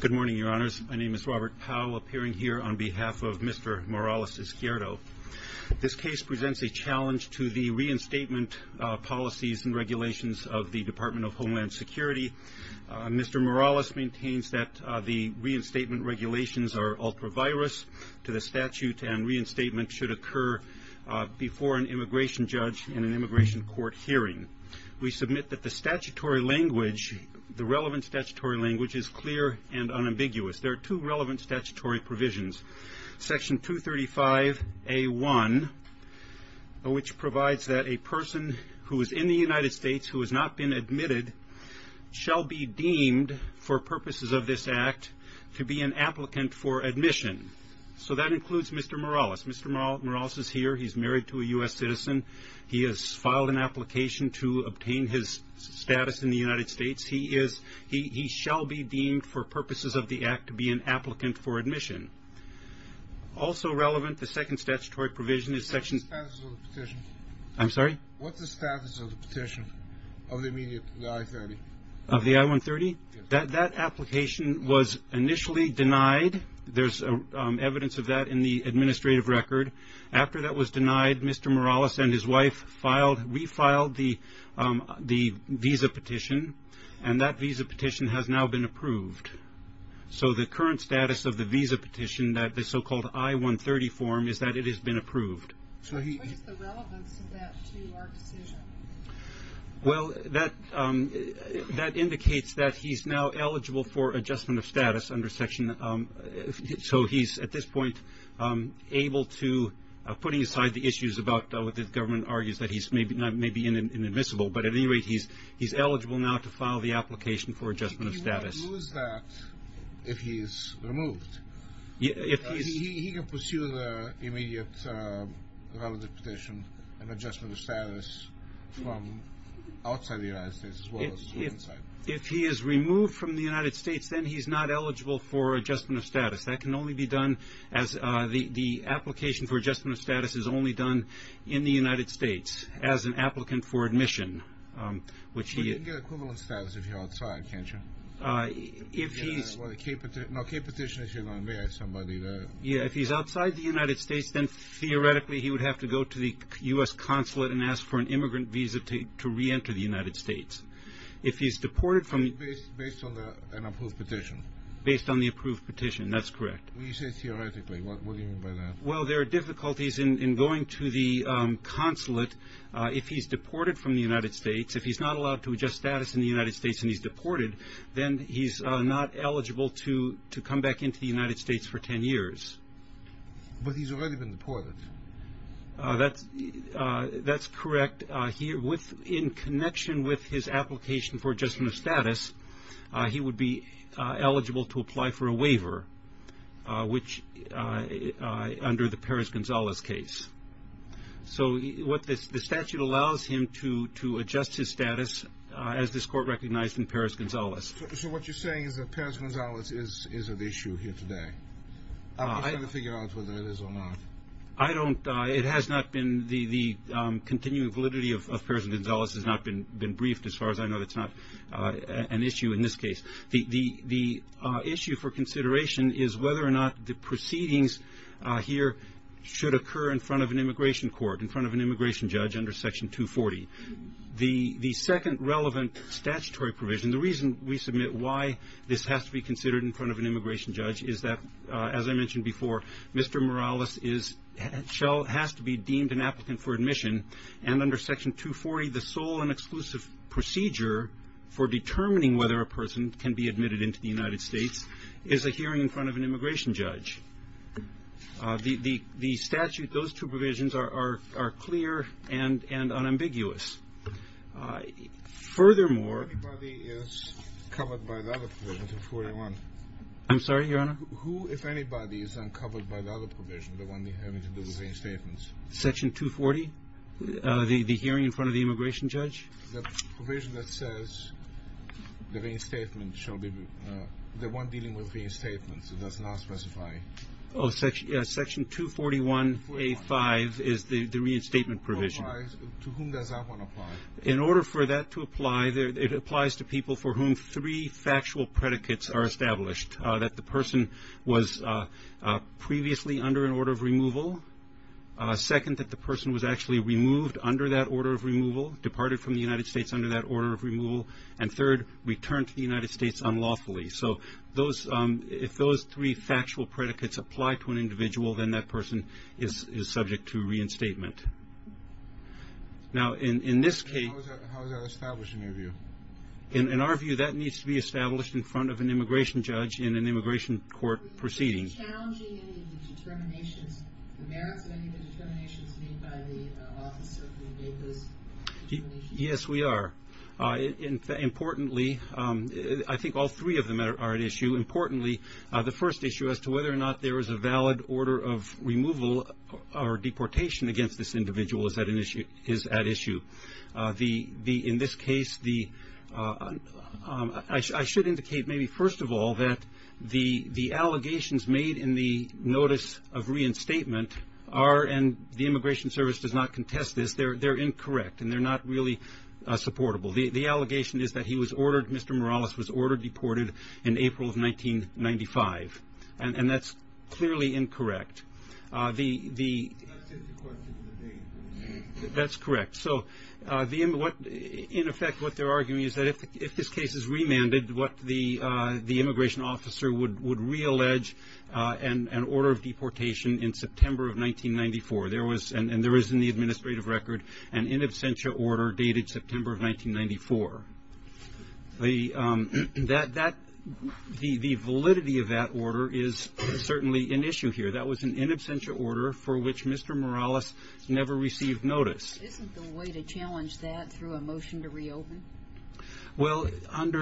Good morning, Your Honors. My name is Robert Powell, appearing here on behalf of Mr. Morales-Izquierdo. This case presents a challenge to the reinstatement policies and regulations of the Department of Homeland Security. Mr. Morales maintains that the reinstatement regulations are ultra-virus to the statute and reinstatement should occur before an immigration judge in an immigration court hearing. We submit that the relevant statutory language is clear and unambiguous. There are two relevant statutory provisions. Section 235A1, which provides that a person who is in the United States who has not been admitted shall be deemed for purposes of this act to be an applicant for admission. So that includes Mr. Morales. Mr. Morales is here. He's married to a U.S. citizen. He has filed an application to obtain his status in the United States. He shall be deemed for purposes of the act to be an applicant for admission. Also relevant, the second statutory provision is Section- What's the status of the petition of the immediate I-30? Of the I-130? That application was initially denied. There's evidence of that in the administrative record. After that was denied, Mr. Morales and his wife refiled the visa petition and that visa petition has now been approved. So the current status of the visa petition, that the so-called I-130 form, is that it has been approved. What is the relevance of that to our decision? Well, that indicates that he's now eligible for adjustment of status under Section- So he's at this point able to, putting aside the issues about what the government argues that he's maybe inadmissible, but at any rate, he's eligible now to file the application for adjustment of status. He won't lose that if he's removed. He can pursue the immediate valid petition and adjustment of status from outside the United States as well as from inside. If he is removed from the United States, then he's not eligible for adjustment of status. That can only be done as the application for adjustment of status is only done in the United States as an applicant for admission, which he- You can get equivalent status if you're outside, can't you? If he's- No, a key petition is you're going to have somebody that- Yeah, if he's outside the United States, then theoretically he would have to go to the U.S. consulate and ask for an immigrant visa to re-enter the United States. If he's deported from- Based on an approved petition. Based on the approved petition, that's correct. When you say theoretically, what do you mean by that? Well, there are difficulties in going to the consulate. If he's deported from the United States, if he's not allowed to adjust status in the United States and he's deported, then he's not eligible to come back into the United States for 10 years. But he's already been deported. That's correct. In connection with his application for adjustment of status, he would be eligible to apply for a waiver, which, under the Perez-Gonzalez case. So the statute allows him to adjust his status as this court recognized in Perez-Gonzalez. So what you're saying is that Perez-Gonzalez is at issue here today? I'm just trying to figure out whether it is or not. I don't- It has not been- The continuing validity of Perez-Gonzalez has not been briefed, as far as I know. That's not an issue in this case. The issue for consideration is whether or not the proceedings here should occur in front of an immigration court, in front of an immigration judge under Section 240. The second relevant statutory provision, the reason we submit why this has to be considered in front of an immigration judge, is that, as I mentioned before, Mr. Morales has to be deemed an applicant for admission. And under Section 240, the sole and exclusive procedure for determining whether a person can be admitted into the United States is a hearing in front of an immigration judge. The statute, those two provisions, are clear and unambiguous. Furthermore- If anybody is covered by the other provision, 241- I'm sorry, Your Honor? Who, if anybody, is uncovered by the other provision, the one having to do with reinstatements? Section 240? The hearing in front of the immigration judge? The provision that says the reinstatement shall be- The one dealing with reinstatements. It does not specify- Oh, Section 241A5 is the reinstatement provision. To whom does that one apply? In order for that to apply, it applies to people for whom three factual predicates are established, that the person was previously under an order of removal, second, that the person was actually removed under that order of removal, departed from the United States under that order of removal, and third, returned to the United States unlawfully. So if those three factual predicates apply to an individual, then that person is subject to reinstatement. Now, in this case- How is that established in your view? In our view, that needs to be established in front of an immigration judge in an immigration court proceeding. Are we challenging any of the determinations, the merits of any of the determinations made by the officer who made those determinations? Yes, we are. Importantly, I think all three of them are at issue. Importantly, the first issue as to whether or not there is a valid order of removal or deportation against this individual is at issue. In this case, I should indicate maybe first of all that the allegations made in the notice of reinstatement are, and the Immigration Service does not contest this, they're incorrect, and they're not really supportable. The allegation is that he was ordered deported in April of 1995, and that's clearly incorrect. That's if you question the date. That's correct. In effect, what they're arguing is that if this case is remanded, the immigration officer would reallege an order of deportation in September of 1994, and there is in the administrative record an in absentia order dated September of 1994. The validity of that order is certainly an issue here. That was an in absentia order for which Mr. Morales never received notice. Isn't there a way to challenge that through a motion to reopen? Well, that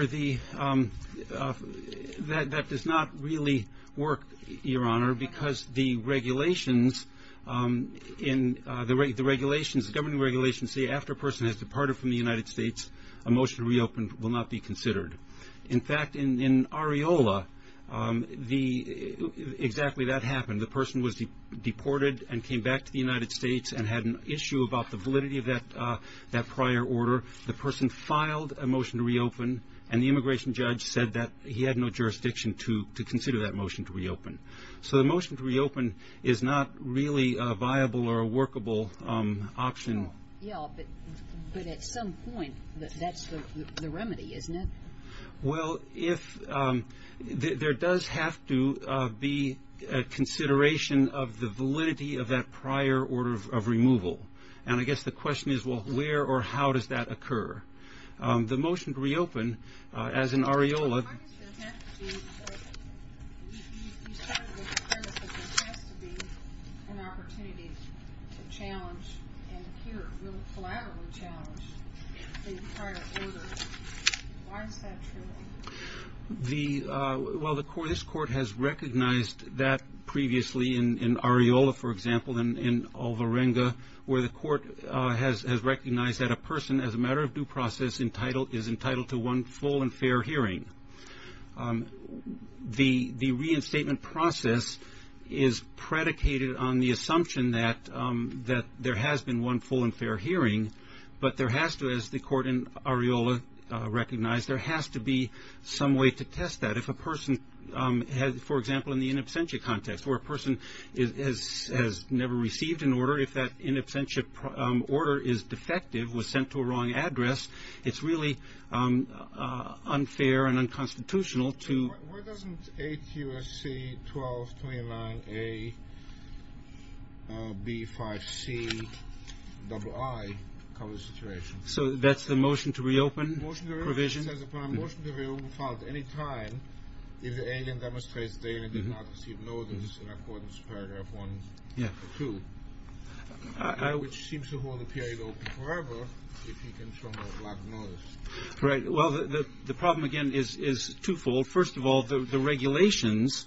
does not really work, Your Honor, because the regulations, the governing regulations say after a person has departed from the United States, a motion to reopen will not be considered. In fact, in Areola, exactly that happened. The person was deported and came back to the motion to reopen, and the immigration judge said that he had no jurisdiction to consider that motion to reopen. So the motion to reopen is not really a viable or a workable option. Yeah, but at some point, that's the remedy, isn't it? Well, there does have to be a consideration of the validity of that prior order of removal, and I guess the question is, well, where or how does that occur? The motion to reopen, as in Areola... Why does there have to be an opportunity to challenge and here really collaboratively challenge the prior order? Why is that true? Well, this court has recognized that previously in Areola, for example, in Olverenga, where the court has recognized that a person, as a matter of due process, is entitled to one full and fair hearing. The reinstatement process is predicated on the assumption that there has been one full and fair hearing, but there has to, as the court in Areola recognized, there has to be some way to test that. If a person, for example, in the in absentia context, where a person has never received an order, if that in absentia order is defective, was sent to a wrong address, it's really unfair and unconstitutional to... AQSC 1229A B5C double I covers the situation. So that's the motion to reopen provision? Motion to reopen says if a motion to reopen filed at any time, if the alien demonstrates the alien did not receive notice in accordance with paragraph 1.2, which seems to hold the period open forever if he can show no lack of notice. Right, well, the problem again is twofold. First of all, the regulations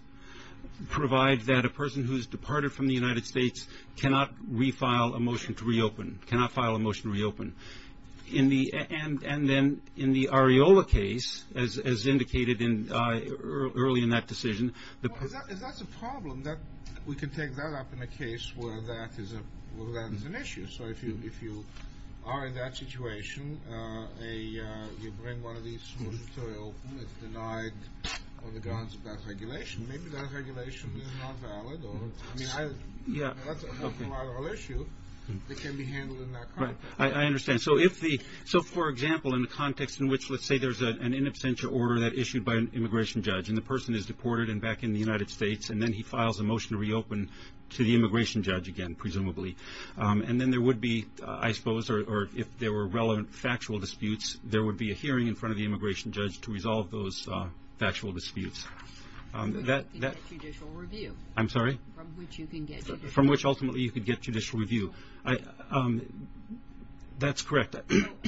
provide that a person who has departed from the United States cannot refile a motion to reopen, cannot file a motion to reopen. And then in the Areola case, as indicated early in that decision... Is that a problem that we can take that up in a case where that is an issue? So if you are in that situation, you bring one of these motions to reopen, it's denied on the grounds of that regulation. Maybe that regulation is not valid. I mean, that's a whole other issue that can be handled in that context. I understand. So for example, in the context in which, let's say, there's an in absentia order that issued by an immigration judge, and the person is deported and back in the United States, and then he files a motion to reopen to the immigration judge again, presumably. And then there would be, I suppose, or if there were relevant factual disputes, there would be a hearing in front of the immigration judge to resolve those factual disputes. From which you can get judicial review. I'm sorry? From which you can get judicial review. From which ultimately you could get judicial review. That's correct.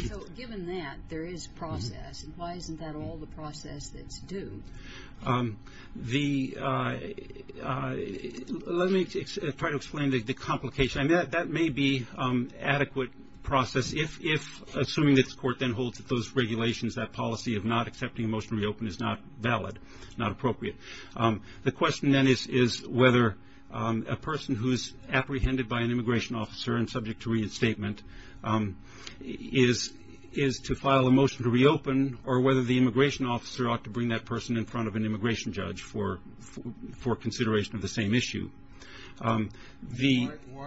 So given that, there is process. Why isn't that all the process that's due? Let me try to explain the complication. I mean, that may be adequate process. If, assuming this court then holds that those regulations, that policy of not accepting a motion to reopen is not valid, not appropriate. The question then is whether a person who is apprehended by an immigration officer and subject to reinstatement is to file a motion to reopen, or whether the immigration officer ought to bring that person in front of an immigration judge for consideration of the same issue. Why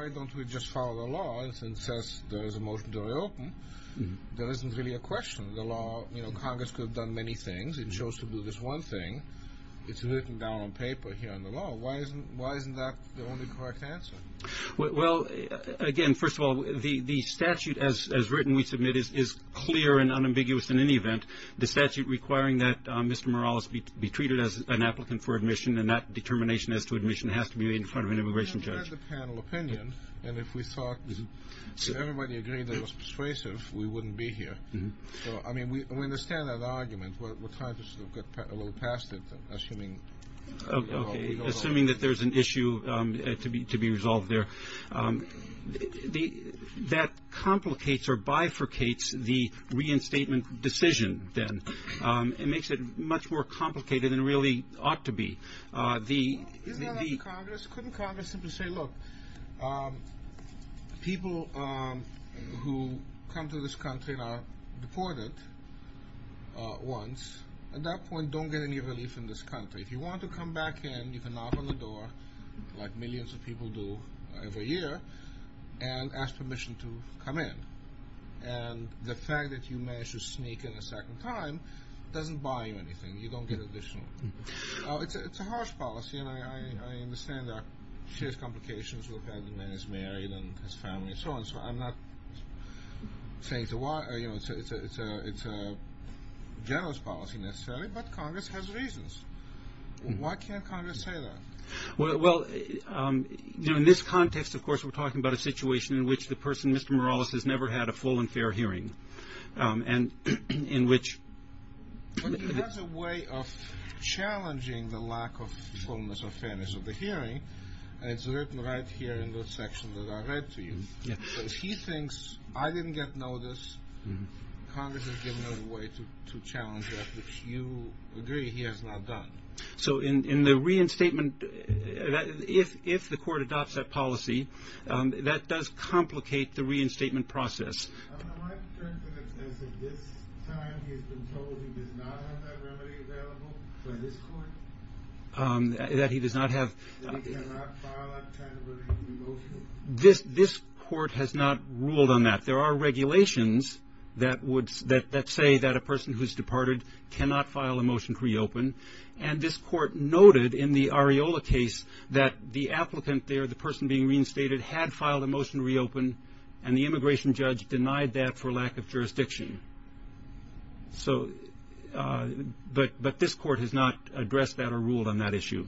don't we just follow the law that says there is a motion to reopen? There isn't really a question. The law, you know, Congress could have done many things. It chose to do this one thing. It's written down on paper here in the law. Why isn't that the only correct answer? Well, again, first of all, the statute as written, we submit, is clear and unambiguous in any event. The statute requiring that Mr. Morales be treated as an applicant for admission and that determination as to admission has to be made in front of an immigration judge. We had the panel opinion, and if we thought everybody agreed that it was persuasive, we wouldn't be here. I mean, we understand that argument. We're trying to sort of get a little past it, assuming. Okay, assuming that there's an issue to be resolved there. That complicates or bifurcates the reinstatement decision, then. It makes it much more complicated than it really ought to be. Isn't that up to Congress? Couldn't Congress simply say, look, people who come to this country and are deported once, at that point, don't get any relief in this country. If you want to come back in, you can knock on the door, like millions of people do every year, and ask permission to come in. And the fact that you managed to sneak in a second time doesn't buy you anything. You don't get additional. It's a harsh policy, and I understand there are serious complications, where apparently the man is married and has family and so on. I'm not saying it's a generous policy, necessarily, but Congress has reasons. Why can't Congress say that? Well, in this context, of course, we're talking about a situation in which the person, Mr. Morales, has never had a full and fair hearing, and in which... But he has a way of challenging the lack of fullness or fairness of the hearing, and it's written right here in this section that I read to you. So if he thinks, I didn't get notice, Congress has given him a way to challenge that, which you agree he has not done. So in the reinstatement, if the court adopts that policy, that does complicate the reinstatement process. Am I correct in assessing this time he has been told he does not have that remedy available for this court? That he does not have... This court has not ruled on that. There are regulations that say that a person who's departed cannot file a motion to reopen, and this court noted in the Areola case that the applicant there, the person being reinstated, had filed a motion to reopen, and the immigration judge denied that for lack of jurisdiction. So, but this court has not addressed that or ruled on that issue.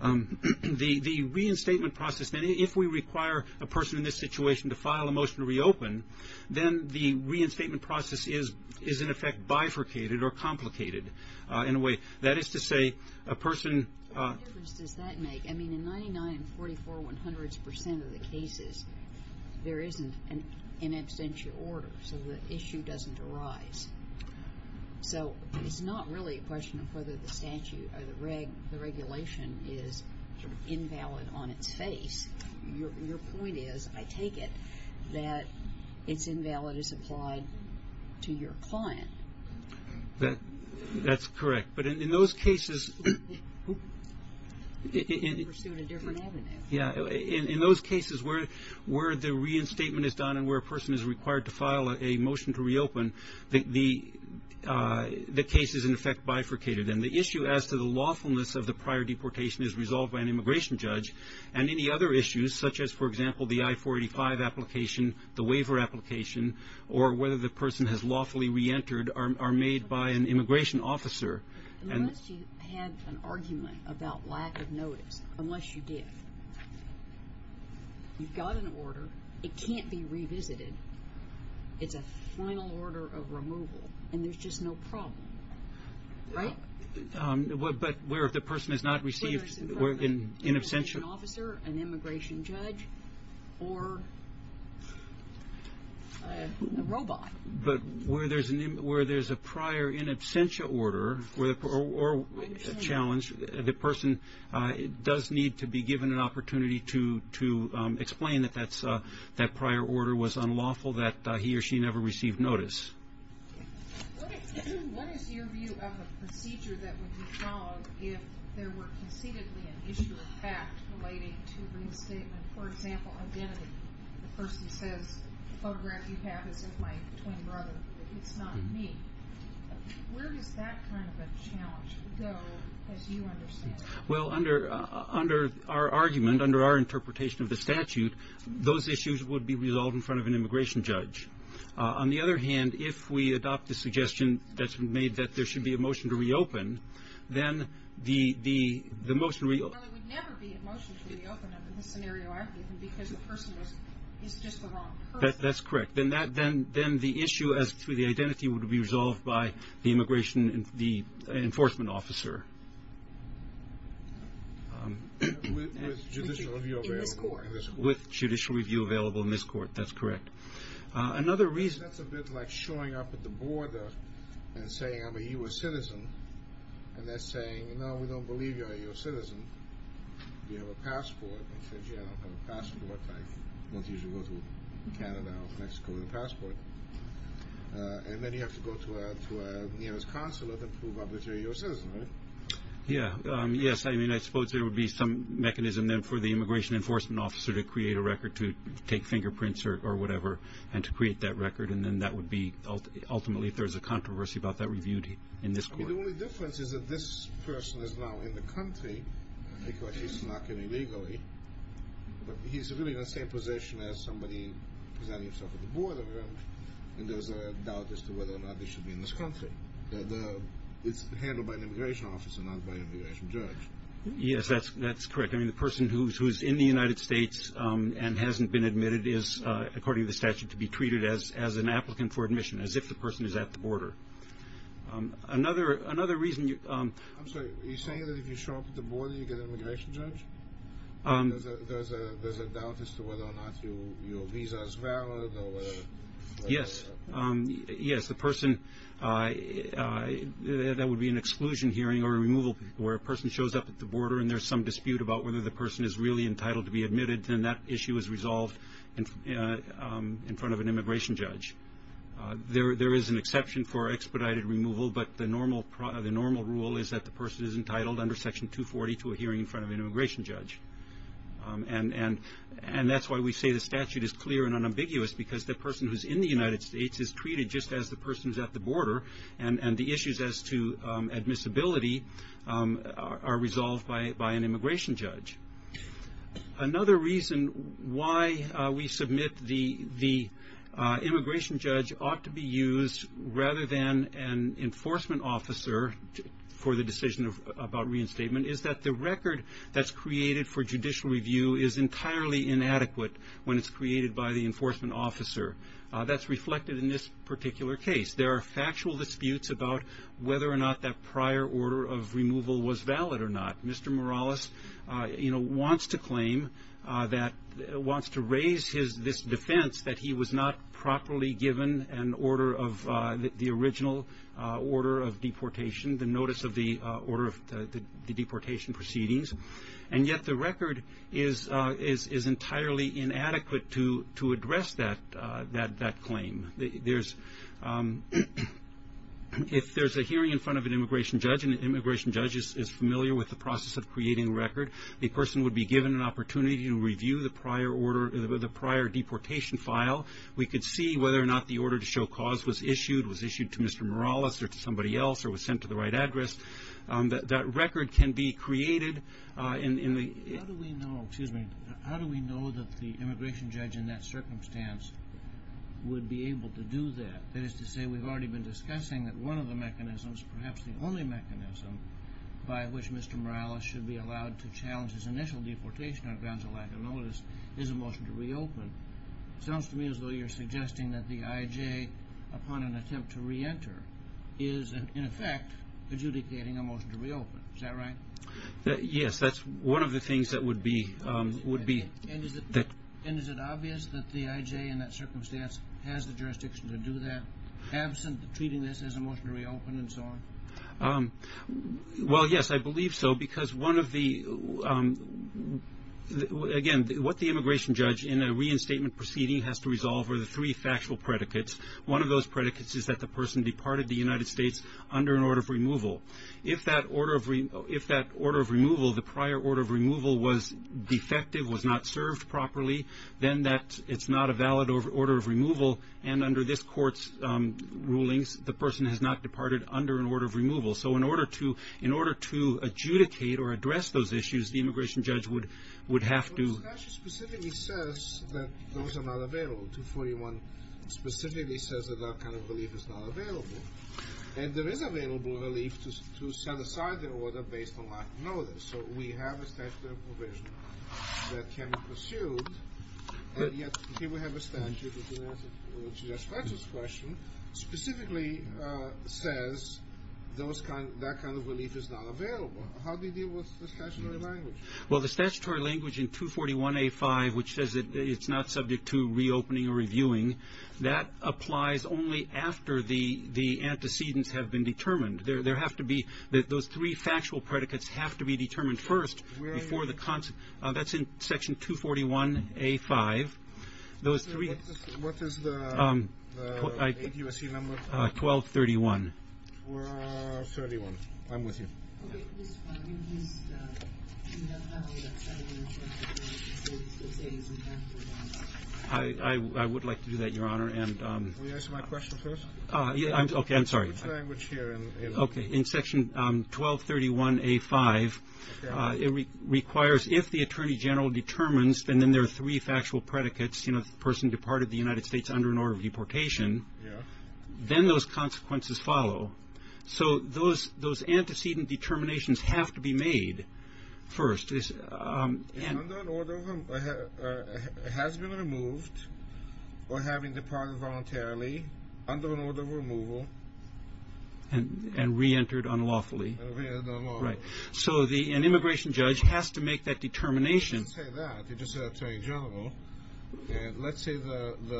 The reinstatement process, if we require a person in this situation to file a motion to reopen, then the reinstatement process is in effect bifurcated or complicated in a way. That is to say, a person... What difference does that make? I mean, in 99, 44, 100 percent of the cases, there isn't an absentia order, so the issue doesn't arise. So it's not really a question of whether the statute or the regulation is sort of invalid on its face. Your point is, I take it, that it's invalid as applied to your client. That's correct. But in those cases... Yeah, in those cases where the reinstatement is done and where a person is required to file a motion to reopen, the case is in effect bifurcated, and the issue as to the lawfulness of the prior deportation is resolved by an immigration judge, and any other issues such as, for example, the I-485 application, the waiver application, or whether the person has lawfully reentered are made by an immigration officer. Unless you had an argument about lack of notice, unless you did, you've got an order. It can't be revisited. It's a final order of removal, and there's just no problem, right? But where if the person has not received an in absentia... Whether it's an immigration officer, an immigration judge, or a robot. But where there's a prior in absentia order or challenge, the person does need to be given an opportunity to explain that that prior order was unlawful, that he or she never received notice. What is your view of a procedure that would be followed if there were conceitedly an issue of fact relating to reinstatement? For example, identity. The person says, the photograph you have is of my twin brother. It's not me. Where does that kind of a challenge go, as you understand it? Well, under our argument, under our interpretation of the statute, those issues would be resolved in front of an immigration judge. On the other hand, if we adopt the suggestion that's been made that there should be a motion to reopen, then the motion... Well, there would never be a motion to reopen in this scenario argument, because the person is just the wrong person. That's correct. Then the issue as to the identity would be resolved by the immigration, the enforcement officer. With judicial review available in this court. With judicial review available in this court. That's correct. That's a bit like showing up at the border and saying, I'm a U.S. citizen, and they're saying, no, we don't believe you're a U.S. citizen. You have a passport. They say, yeah, I don't have a passport. I don't usually go to Canada or Mexico with a passport. And then you have to go to a U.S. consulate and prove obviously you're a U.S. citizen, right? Yeah. Yes, I mean, I suppose there would be some mechanism then for the immigration enforcement officer to create a record to take fingerprints or whatever and to create that record, and then that would be ultimately, if there's a controversy about that, reviewed in this court. The only difference is that this person is now in the country, because he's not getting legally, but he's really in the same position as somebody presenting himself at the border, and there's a doubt as to whether or not they should be in this country. It's handled by an immigration officer, not by an immigration judge. Yes, that's correct. I mean, the person who's in the United States and hasn't been admitted is, according to the statute, to be treated as an applicant for admission, as if the person is at the border. Another reason you – I'm sorry. Are you saying that if you show up at the border, you get an immigration judge? There's a doubt as to whether or not your visa is valid or whatever? Yes. Yes, the person – that would be an exclusion hearing or a removal, where a person shows up at the border and there's some dispute about whether the person is really entitled to be admitted, then that issue is resolved in front of an immigration judge. There is an exception for expedited removal, but the normal rule is that the person is entitled under Section 240 to a hearing in front of an immigration judge. And that's why we say the statute is clear and unambiguous, because the person who's in the United States is treated just as the person who's at the border, and the issues as to admissibility are resolved by an immigration judge. Another reason why we submit the immigration judge ought to be used, rather than an enforcement officer, for the decision about reinstatement, is that the record that's created for judicial review is entirely inadequate when it's created by the enforcement officer. That's reflected in this particular case. There are factual disputes about whether or not that prior order of removal was valid or not. Mr. Morales wants to claim that – wants to raise this defense that he was not properly given an order of – the original order of deportation, the notice of the order of the deportation proceedings, and yet the record is entirely inadequate to address that claim. There's – if there's a hearing in front of an immigration judge, and the immigration judge is familiar with the process of creating a record, the person would be given an opportunity to review the prior order – the prior deportation file. We could see whether or not the order to show cause was issued, was issued to Mr. Morales or to somebody else, or was sent to the right address. That record can be created in the – How do we know – excuse me – how do we know that the immigration judge in that circumstance would be able to do that? That is to say, we've already been discussing that one of the mechanisms, perhaps the only mechanism, by which Mr. Morales should be allowed to challenge his initial deportation on grounds of lack of notice, is a motion to reopen. Sounds to me as though you're suggesting that the IJ, upon an attempt to reenter, is in effect adjudicating a motion to reopen. Is that right? Yes, that's one of the things that would be – would be – And is it obvious that the IJ, in that circumstance, has the jurisdiction to do that, absent treating this as a motion to reopen and so on? Well, yes, I believe so, because one of the – again, what the immigration judge, in a reinstatement proceeding, has to resolve are the three factual predicates. One of those predicates is that the person departed the United States under an order of removal. If that order of – if that order of removal, the prior order of removal, was defective, was not served properly, then that – it's not a valid order of removal, and under this court's rulings, the person has not departed under an order of removal. So in order to – in order to adjudicate or address those issues, the immigration judge would have to – But the statute specifically says that those are not available. 241 specifically says that that kind of relief is not available. And there is available relief to set aside the order based on lack of notice. So we have a statutory provision that can be pursued, and yet here we have a statute which is a special question, specifically says those kind – that kind of relief is not available. How do you deal with the statutory language? Well, the statutory language in 241A5, which says that it's not subject to reopening or reviewing, that applies only after the antecedents have been determined. There have to be – those three factual predicates have to be determined first before the – That's in Section 241A5. What is the – 1231. 1231. I'm with you. Okay. I would like to do that, Your Honor. Will you answer my question first? Okay. I'm sorry. Which language here? Okay. In Section 1231A5, it requires if the attorney general determines, then there are three factual predicates, you know, the person departed the United States under an order of deportation. Yeah. Then those consequences follow. So those antecedent determinations have to be made first. Under an order of – has been removed or having departed voluntarily under an order of removal. And reentered unlawfully. Reentered unlawfully. Right. So an immigration judge has to make that determination. You didn't say that. You just said attorney general. Let's say the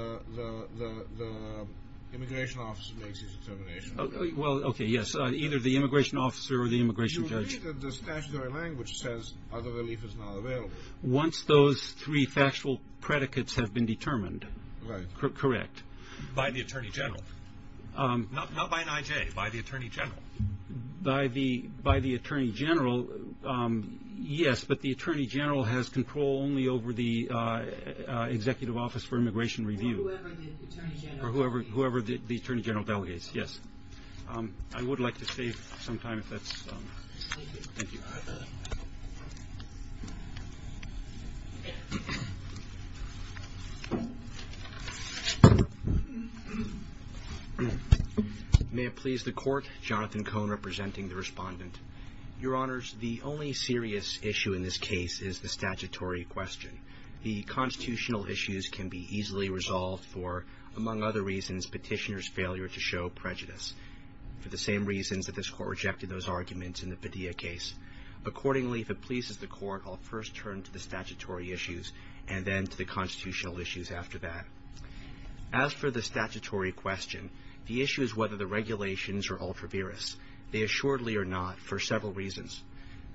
immigration officer makes his determination. Well, okay, yes. Either the immigration officer or the immigration judge. You believe that the statutory language says other relief is not available. Once those three factual predicates have been determined. Right. Correct. By the attorney general. Not by an I.J., by the attorney general. By the attorney general, yes, but the attorney general has control only over the executive office for immigration review. Or whoever the attorney general delegates. Yes. I would like to save some time if that's – Thank you. Thank you. May it please the court. Jonathan Cohn representing the respondent. Your Honors, the only serious issue in this case is the statutory question. The constitutional issues can be easily resolved for, among other reasons, petitioner's failure to show prejudice. For the same reasons that this court rejected those arguments in the Padilla case. Accordingly, if it pleases the court, I'll first turn to the statutory issues and then to the constitutional issues after that. As for the statutory question, the issue is whether the regulations are ultra-virus. They assuredly are not for several reasons.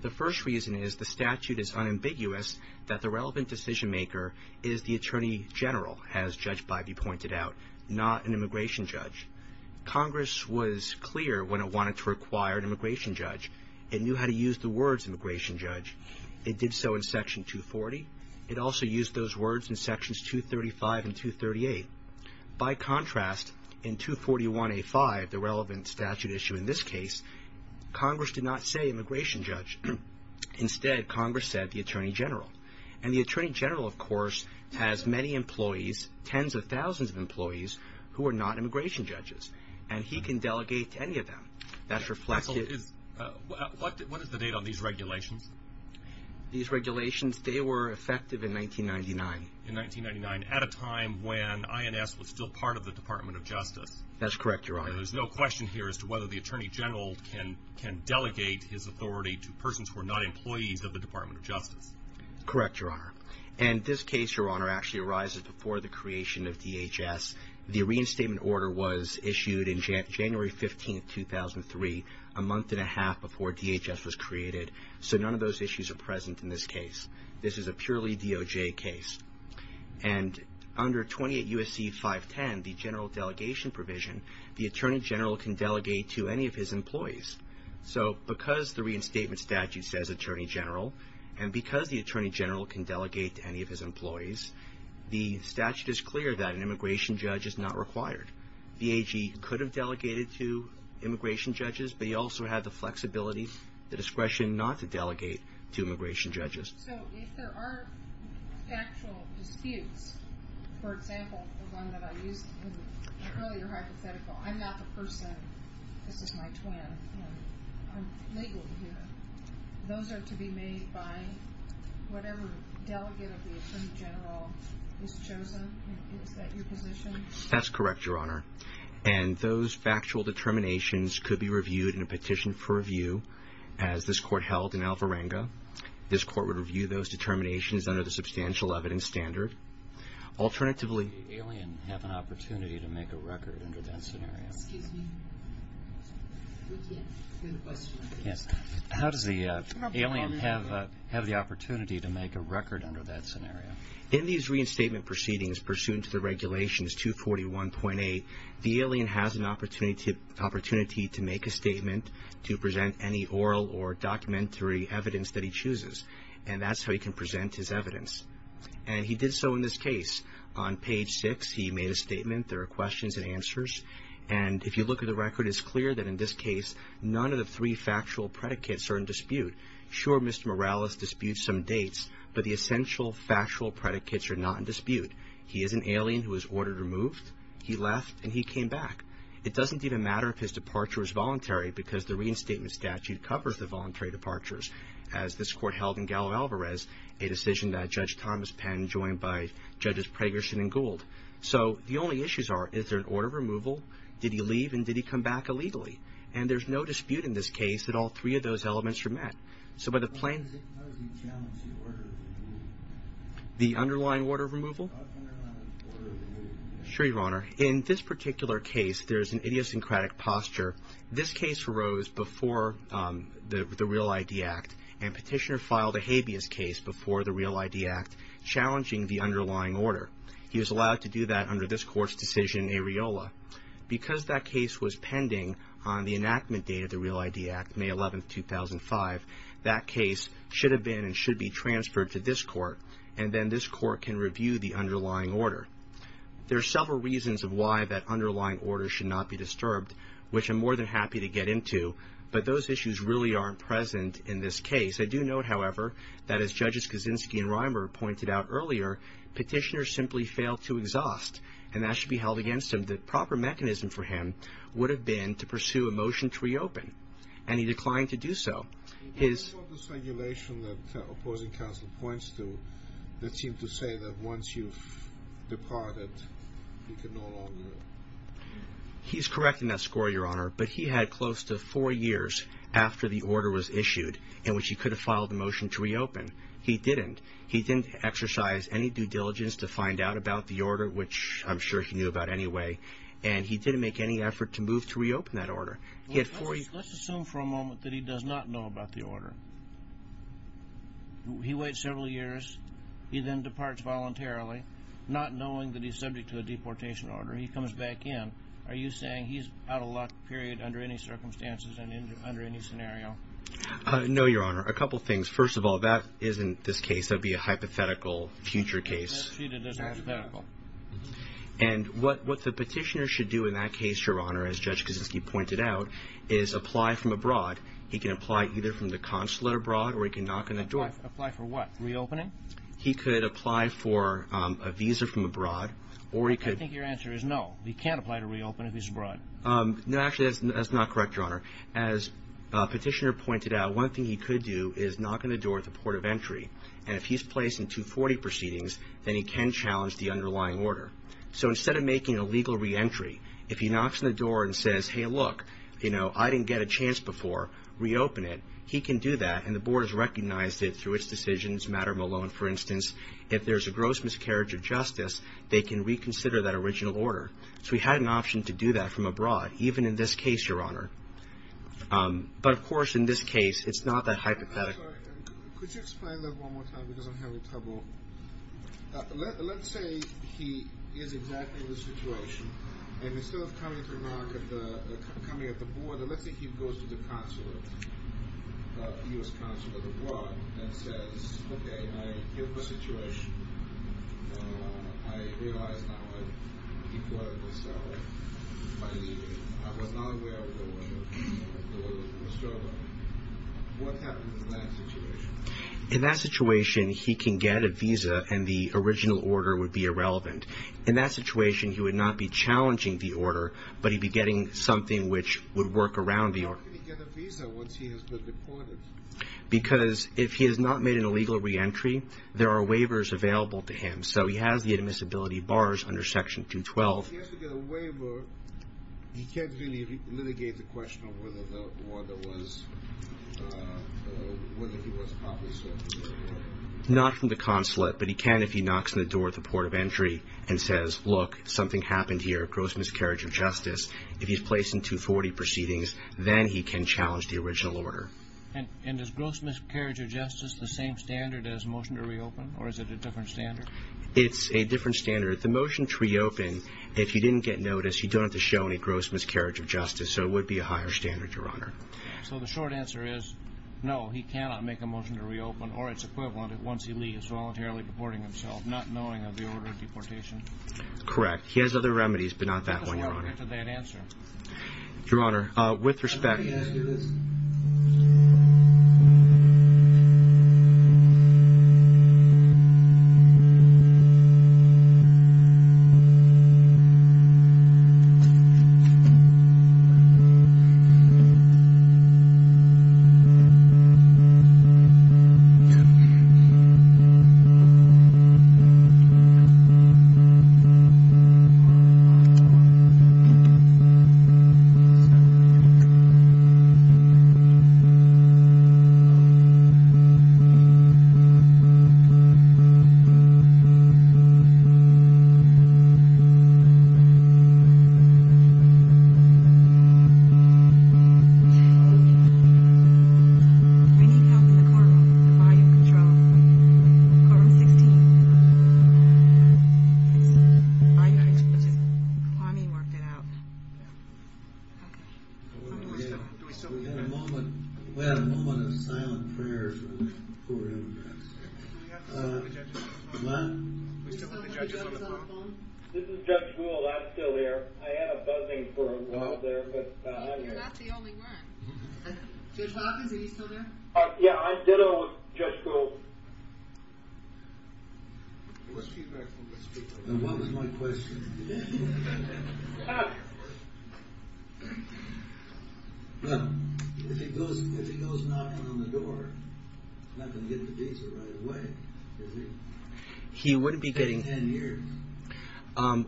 The first reason is the statute is unambiguous that the relevant decision maker is the attorney general, as Judge Bybee pointed out, not an immigration judge. Congress was clear when it wanted to require an immigration judge. It knew how to use the words immigration judge. It did so in Section 240. It also used those words in Sections 235 and 238. By contrast, in 241A5, the relevant statute issue in this case, Congress did not say immigration judge. Instead, Congress said the attorney general. And the attorney general, of course, has many employees, tens of thousands of employees, who are not immigration judges. And he can delegate to any of them. That's reflected. What is the date on these regulations? These regulations, they were effective in 1999. In 1999, at a time when INS was still part of the Department of Justice. That's correct, Your Honor. There's no question here as to whether the attorney general can delegate his authority to persons who are not employees of the Department of Justice. Correct, Your Honor. And this case, Your Honor, actually arises before the creation of DHS. The reinstatement order was issued in January 15, 2003, a month and a half before DHS was created. So none of those issues are present in this case. This is a purely DOJ case. And under 28 U.S.C. 510, the general delegation provision, the attorney general can delegate to any of his employees. So because the reinstatement statute says attorney general, and because the attorney general can delegate to any of his employees, the statute is clear that an immigration judge is not required. The AG could have delegated to immigration judges, but he also had the flexibility, the discretion not to delegate to immigration judges. So if there are factual disputes, for example, the one that I used in the earlier hypothetical, I'm not the person, this is my twin, and I'm legally here. Those are to be made by whatever delegate of the attorney general is chosen. Is that your position? That's correct, Your Honor. And those factual determinations could be reviewed in a petition for review, as this court held in Alvarenga. This court would review those determinations under the substantial evidence standard. How does the alien have an opportunity to make a record under that scenario? How does the alien have the opportunity to make a record under that scenario? In these reinstatement proceedings, pursuant to the regulations 241.8, the alien has an opportunity to make a statement, to present any oral or documentary evidence that he chooses, and that's how he can present his evidence. And he did so in this case. On page 6, he made a statement. There are questions and answers. And if you look at the record, it's clear that in this case, none of the three factual predicates are in dispute. Sure, Mr. Morales disputes some dates, but the essential factual predicates are not in dispute. He is an alien who was ordered removed. He left, and he came back. It doesn't even matter if his departure was voluntary, because the reinstatement statute covers the voluntary departures. As this court held in Galo Alvarez, a decision that Judge Thomas Penn joined by Judges Pregerson and Gould. So the only issues are, is there an order of removal? Did he leave, and did he come back illegally? And there's no dispute in this case that all three of those elements are met. So by the plaintiff's… How does he challenge the order of removal? The underlying order of removal? The underlying order of removal. Sure, Your Honor. In this particular case, there's an idiosyncratic posture. This case arose before the REAL-ID Act, and Petitioner filed a habeas case before the REAL-ID Act, challenging the underlying order. He was allowed to do that under this court's decision, Ariola. Because that case was pending on the enactment date of the REAL-ID Act, May 11, 2005, that case should have been and should be transferred to this court, and then this court can review the underlying order. There are several reasons of why that underlying order should not be disturbed, which I'm more than happy to get into, but those issues really aren't present in this case. I do note, however, that as Judges Kaczynski and Reimer pointed out earlier, Petitioner simply failed to exhaust, and that should be held against him. The proper mechanism for him would have been to pursue a motion to reopen, and he declined to do so. What about this regulation that opposing counsel points to that seems to say that once you've departed, you can no longer… He's correct in that score, Your Honor, but he had close to four years after the order was issued in which he could have filed a motion to reopen. He didn't. He didn't exercise any due diligence to find out about the order, which I'm sure he knew about anyway, and he didn't make any effort to move to reopen that order. Let's assume for a moment that he does not know about the order. He waits several years. He then departs voluntarily, not knowing that he's subject to a deportation order. He comes back in. Are you saying he's out of luck, period, under any circumstances and under any scenario? No, Your Honor. A couple things. First of all, that isn't this case. That would be a hypothetical future case. That's treated as hypothetical. And what the Petitioner should do in that case, Your Honor, as Judge Kaczynski pointed out, is apply from abroad. He can apply either from the consulate abroad or he can knock on the door. Apply for what? Reopening? He could apply for a visa from abroad or he could… I think your answer is no. He can't apply to reopen if he's abroad. No, actually, that's not correct, Your Honor. As Petitioner pointed out, one thing he could do is knock on the door at the port of entry, and if he's placed in 240 proceedings, then he can challenge the underlying order. So instead of making a legal reentry, if he knocks on the door and says, hey, look, you know, I didn't get a chance before, reopen it, he can do that and the board has recognized it through its decisions, for instance, if there's a gross miscarriage of justice, they can reconsider that original order. So he had an option to do that from abroad, even in this case, Your Honor. But, of course, in this case, it's not that hypothetical. Could you explain that one more time because I'm having trouble? Let's say he is exactly in this situation, and instead of coming at the board, let's say he goes to the consulate, the U.S. consulate abroad and says, okay, I have a situation, I realize now I've reported myself, I leave, I was not aware of the order, the order was restored on me. What happens in that situation? In that situation, he can get a visa and the original order would be irrelevant. How can he get a visa once he has been deported? Because if he has not made an illegal reentry, there are waivers available to him. So he has the admissibility bars under Section 212. If he has to get a waiver, he can't really litigate the question of whether the order was, whether he was obviously... Not from the consulate, but he can if he knocks on the door at the port of entry and says, look, something happened here, gross miscarriage of justice. If he's placed in 240 proceedings, then he can challenge the original order. And is gross miscarriage of justice the same standard as motion to reopen, or is it a different standard? It's a different standard. The motion to reopen, if you didn't get notice, you don't have to show any gross miscarriage of justice, so it would be a higher standard, Your Honor. So the short answer is, no, he cannot make a motion to reopen, or its equivalent, once he leaves, voluntarily deporting himself, not knowing of the order of deportation? Correct. He has other remedies, but not that one, Your Honor. What is the object of that answer? Your Honor, with respect... Yeah. Thank you, Your Honor. We need help in the courtroom. Volume control. Courtroom 16. I need to just... I need to work it out. Do we still... We had a moment... We had a moment of silent prayers with the poor immigrants. What? We still have the judges on the phone? This is Judge Gould, I'm still here. I had a buzzing for a while there, but... You're not the only one. Judge Hawkins, are you still there? Yeah, I did a little with Judge Gould. And what was my question again? If he goes knocking on the door, he's not going to get the visa right away, is he? He wouldn't be getting... In 10 years?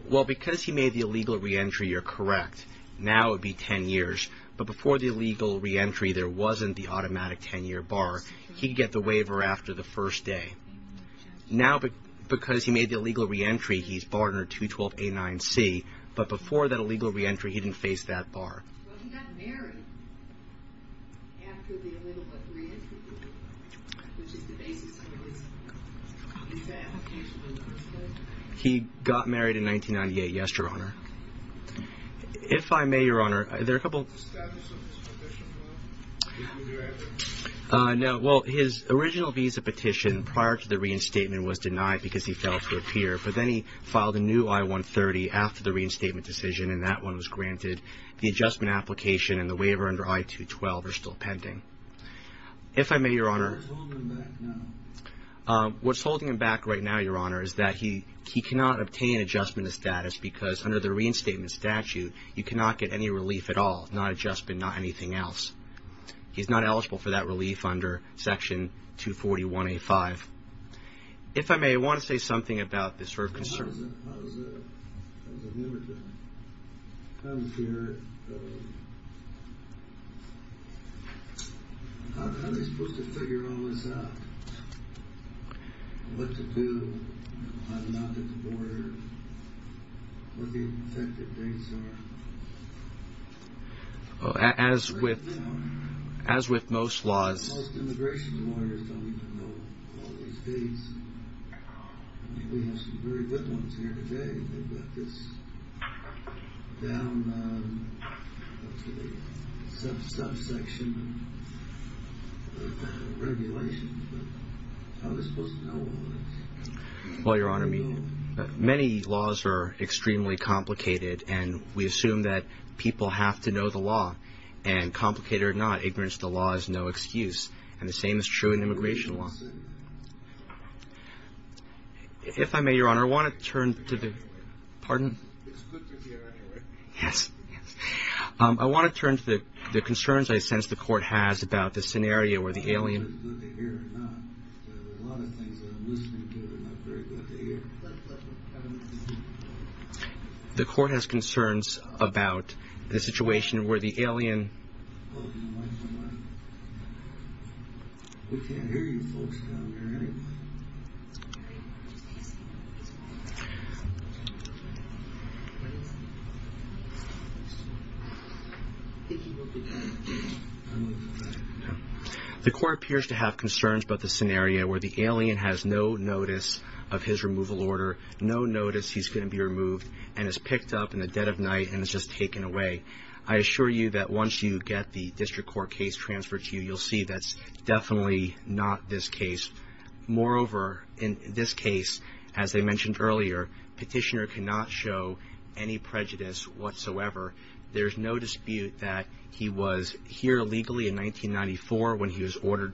Well, because he made the illegal re-entry, you're correct. Now it would be 10 years. But before the illegal re-entry, there wasn't the automatic 10-year bar. He'd get the waiver after the first day. Now, because he made the illegal re-entry, he's barred under 212A9C. But before that illegal re-entry, he didn't face that bar. He got married in 1998, yes, Your Honor. If I may, Your Honor, there are a couple... No, well, his original visa petition prior to the reinstatement was denied because he failed to appear. But then he filed a new I-130 after the reinstatement decision, and that one was granted. The adjustment application and the waiver under I-212 are still pending. If I may, Your Honor... What's holding him back right now, Your Honor, is that he cannot obtain adjustment of status because under the reinstatement statute, you cannot get any relief at all. Not adjustment, not anything else. He's not eligible for that relief under Section 241A5. If I may, I want to say something about this sort of concern. I was a... I was a... I was a immigrant. I was here... How am I supposed to figure all this out? What to do? I'm not at the border. What the effective dates are. As with... As with most laws... Most immigration lawyers don't even know all these dates. We have some very good ones here today. They've got this down to the subsection of regulations. But how am I supposed to know all this? Well, Your Honor, many laws are extremely complicated and we assume that people have to know the law. And complicated or not, ignorance of the law is no excuse. And the same is true in immigration law. If I may, Your Honor, I want to turn to the... Pardon? Yes. I want to turn to the concerns I sense the Court has about the scenario where the alien... I'm not very good at the ear. The Court has concerns about the situation where the alien... We can't hear you folks down there anyway. Sorry. The Court appears to have concerns about the scenario where the alien has no notice of his removal order, no notice he's going to be removed, and is picked up in the dead of night and is just taken away. I assure you that once you get the District Court case transferred to you, you'll see that's definitely not this case. Moreover, in this case, as I mentioned earlier, Petitioner cannot show any prejudice whatsoever. There's no dispute that he was here legally in 1994 when he was ordered...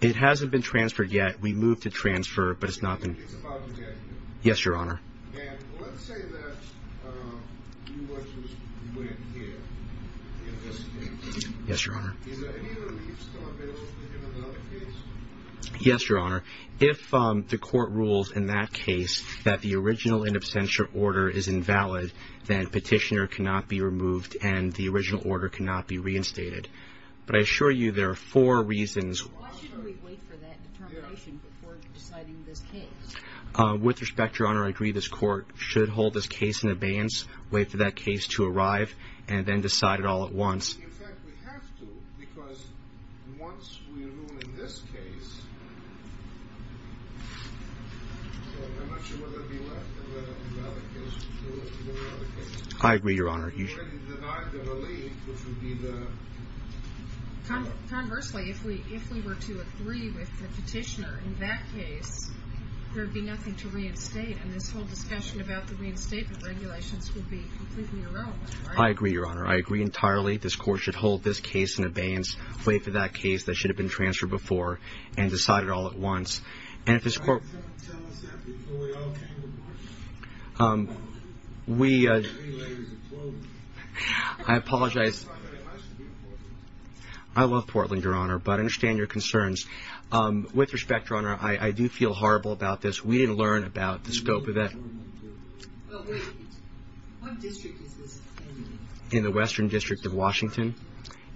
It hasn't been transferred yet. We moved to transfer, but it's not been... Yes, Your Honor. Yes, Your Honor. Yes, Your Honor. If the Court rules in that case that the original in absentia order is invalid, then Petitioner cannot be removed and the original order cannot be reinstated. But I assure you there are four reasons... With respect, Your Honor, I agree this Court should hold this case in abeyance, wait for that case to arrive, and then decide it all at once. I agree, Your Honor. You already denied the relief, which would be the... I agree, Your Honor. I agree entirely this Court should hold this case in abeyance, wait for that case that should have been transferred before, and decide it all at once. And if this Court... We... I apologize. I love Portland, Your Honor, but I understand your concerns. With respect, Your Honor, I do feel horrible about this. We didn't learn about the scope of that. In the Western District of Washington.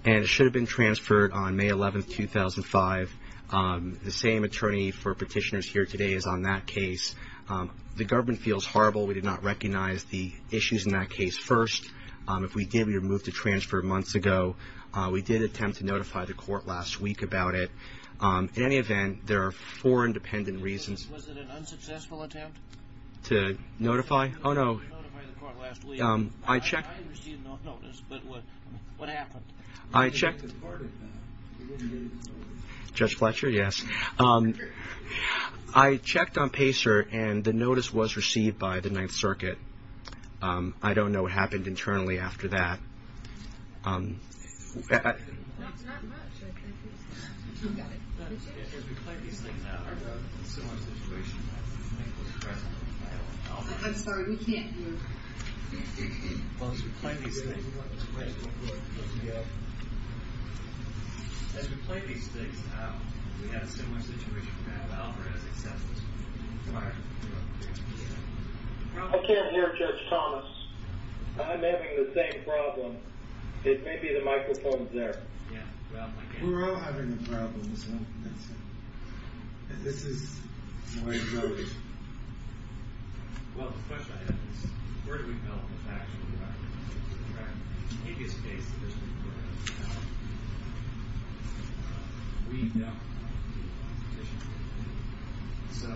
And it should have been transferred on May 11, 2005. The same attorney for Petitioner is here today is on that case. The government feels horrible. We did not recognize the issues in that case first. If we did, we would have moved the transfer months ago. We did attempt to notify the Court last week about it. In any event, there are four independent reasons... Was it an unsuccessful attempt? To notify? Oh, no. To notify the Court last week. I received a notice, but what happened? I checked... Judge Fletcher, yes. I checked on Pacer, and the notice was received by the Ninth Circuit. I don't know what happened internally after that. I'm sorry, we can't move. I don't know what situation we have. I can't hear, Judge Thomas. I'm having the same problem. It may be the microphone's there. We're all having a problem, so... This is where it goes. So...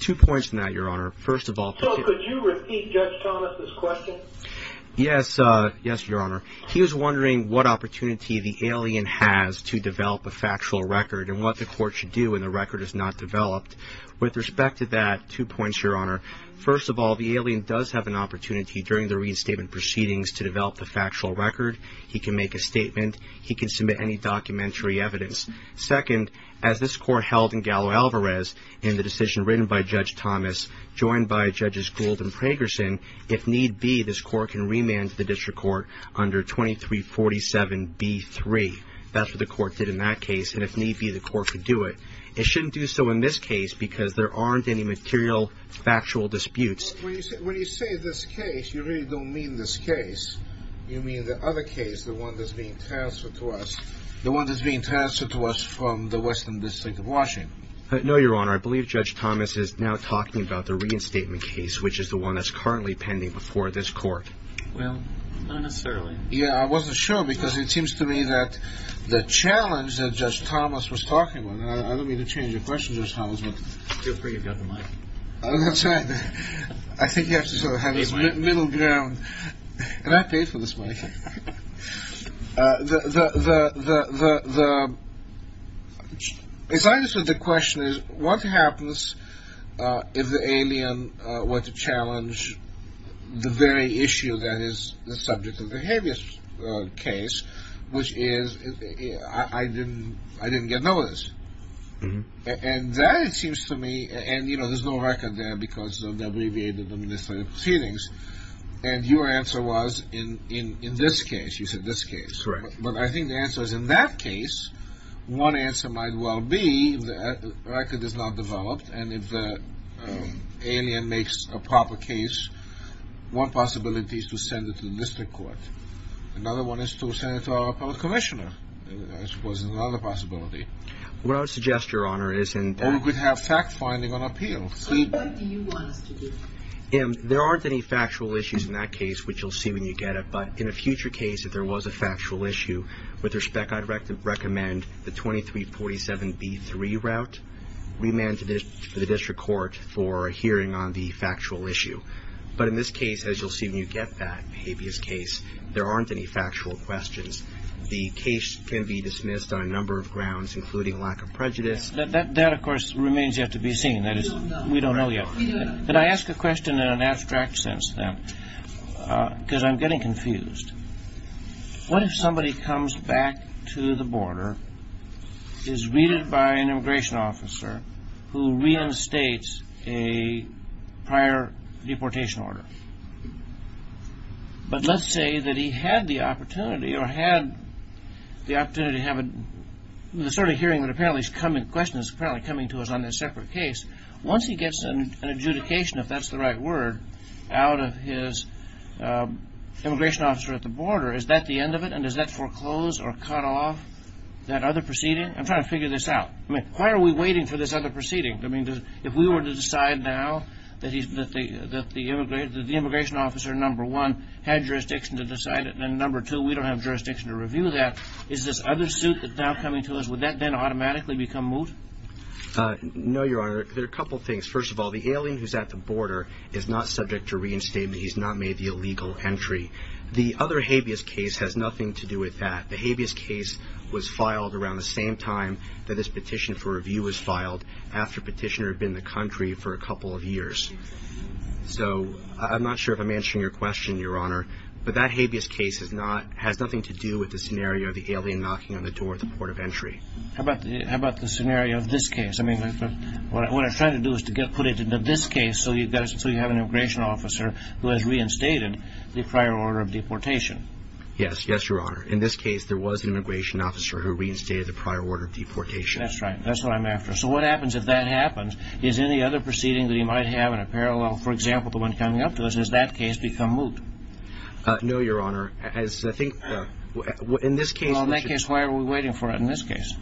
Two points on that, Your Honor. First of all... So, could you repeat Judge Thomas' question? Yes, Your Honor. He was wondering what opportunity the alien has to develop a factual record... and what the Court should do when the record is not developed. With respect to that, two points, Your Honor. First of all, the alien does have an opportunity... during the reinstatement proceedings to develop the factual record. He can make a statement. He can submit any documentary evidence. Second, as this Court held in Gallo-Alvarez... in the decision written by Judge Thomas... joined by Judges Gould and Pragerson... if need be, this Court can remand the District Court under 2347B3. That's what the Court did in that case. And if need be, the Court could do it. It shouldn't do so in this case... because there aren't any material factual disputes. When you say this case, you really don't mean this case. You mean the other case, the one that's being transferred to us... the one that's being transferred to us from the Western District of Washington. No, Your Honor. I believe Judge Thomas is now talking about the reinstatement case... which is the one that's currently pending before this Court. Well, not necessarily. Yeah, I wasn't sure, because it seems to me that... the challenge that Judge Thomas was talking about... and I don't mean to change the question, Judge Thomas, but... Feel free, you've got the mic. That's right. I think you have to sort of have this middle ground. And I paid for this mic. The... As long as the question is, what happens... to challenge the very issue that is the subject of the habeas case... which is, I didn't get noticed. And that, it seems to me... and, you know, there's no record there... because of the abbreviated administrative proceedings. And your answer was, in this case, you said this case. Correct. But I think the answer is, in that case... one answer might well be that the record is not developed... and if the alien makes a proper case... one possibility is to send it to the district court. Another one is to send it to our appellate commissioner... which was another possibility. What I would suggest, Your Honor, is... Or we could have fact-finding on appeal. What do you want us to do? There aren't any factual issues in that case, which you'll see when you get it. But in a future case, if there was a factual issue... with respect, I'd recommend the 2347B3 route. Remand it to the district court for a hearing on the factual issue. But in this case, as you'll see when you get that habeas case... there aren't any factual questions. The case can be dismissed on a number of grounds... including lack of prejudice. That, of course, remains yet to be seen. We don't know yet. Can I ask a question in an abstract sense, then? Because I'm getting confused. What if somebody comes back to the border... is greeted by an immigration officer... who reinstates a prior deportation order? But let's say that he had the opportunity... or had the opportunity to have a... the sort of hearing that apparently is coming to us on a separate case. Once he gets an adjudication, if that's the right word... out of his immigration officer at the border... is that the end of it? And does that foreclose or cut off that other proceeding? I'm trying to figure this out. Why are we waiting for this other proceeding? I mean, if we were to decide now... that the immigration officer, number one... had jurisdiction to decide it... and number two, we don't have jurisdiction to review that... is this other suit that's now coming to us... would that then automatically become moot? No, Your Honor. There are a couple of things. First of all, the alien who's at the border... is not subject to reinstatement. He's not made the illegal entry. The other habeas case has nothing to do with that. The habeas case was filed around the same time... that this petition for review was filed... after Petitioner had been in the country for a couple of years. So I'm not sure if I'm answering your question, Your Honor. But that habeas case has nothing to do with the scenario... of the alien knocking on the door at the port of entry. How about the scenario of this case? What I'm trying to do is to put it into this case... so you have an immigration officer... who has reinstated the prior order of deportation. Yes, Your Honor. In this case, there was an immigration officer... who reinstated the prior order of deportation. That's right. That's what I'm after. So what happens if that happens? Is any other proceeding that he might have in a parallel... for example, the one coming up to us... has that case become moot? No, Your Honor. As I think... In this case... Well, in that case, why are we waiting for it? In this case...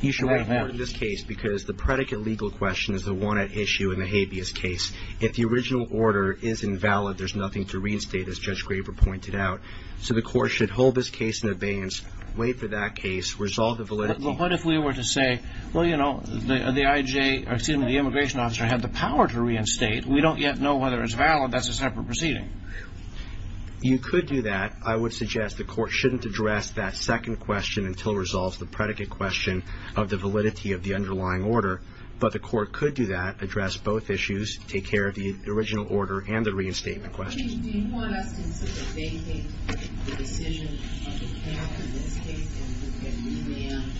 He should wait for it in this case... because the predicate legal question... is the one at issue in the habeas case. If the original order is invalid... there's nothing to reinstate, as Judge Graber pointed out. So the court should hold this case in abeyance... wait for that case, resolve the validity... But what if we were to say... Well, you know, the IJ... excuse me, the immigration officer... had the power to reinstate. We don't yet know whether it's valid. That's a separate proceeding. You could do that. I would suggest the court shouldn't address that second question... until it resolves the predicate question... of the validity of the underlying order. But the court could do that... address both issues... take care of the original order... and the reinstatement question. Do you want us to consider... vacating the decision of the panel... in this case... and to get you in and out?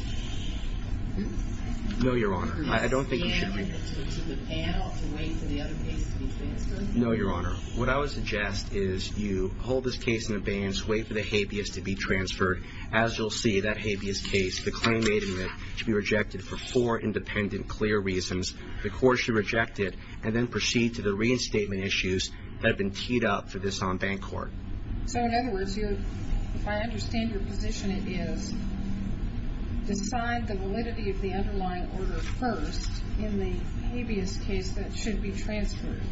No, Your Honor. I don't think we should. To the panel... to wait for the other case to be transferred? No, Your Honor. What I would suggest is... you hold this case in abeyance... wait for the habeas to be transferred. As you'll see, that habeas case... the claim made in it... should be rejected... for four independent, clear reasons. The court should reject it... and then proceed to the reinstatement issues... that have been teed up... for this en banc court. So, in other words... if I understand your position... it is... decide the validity... of the underlying order first... in the habeas case... that should be transferred.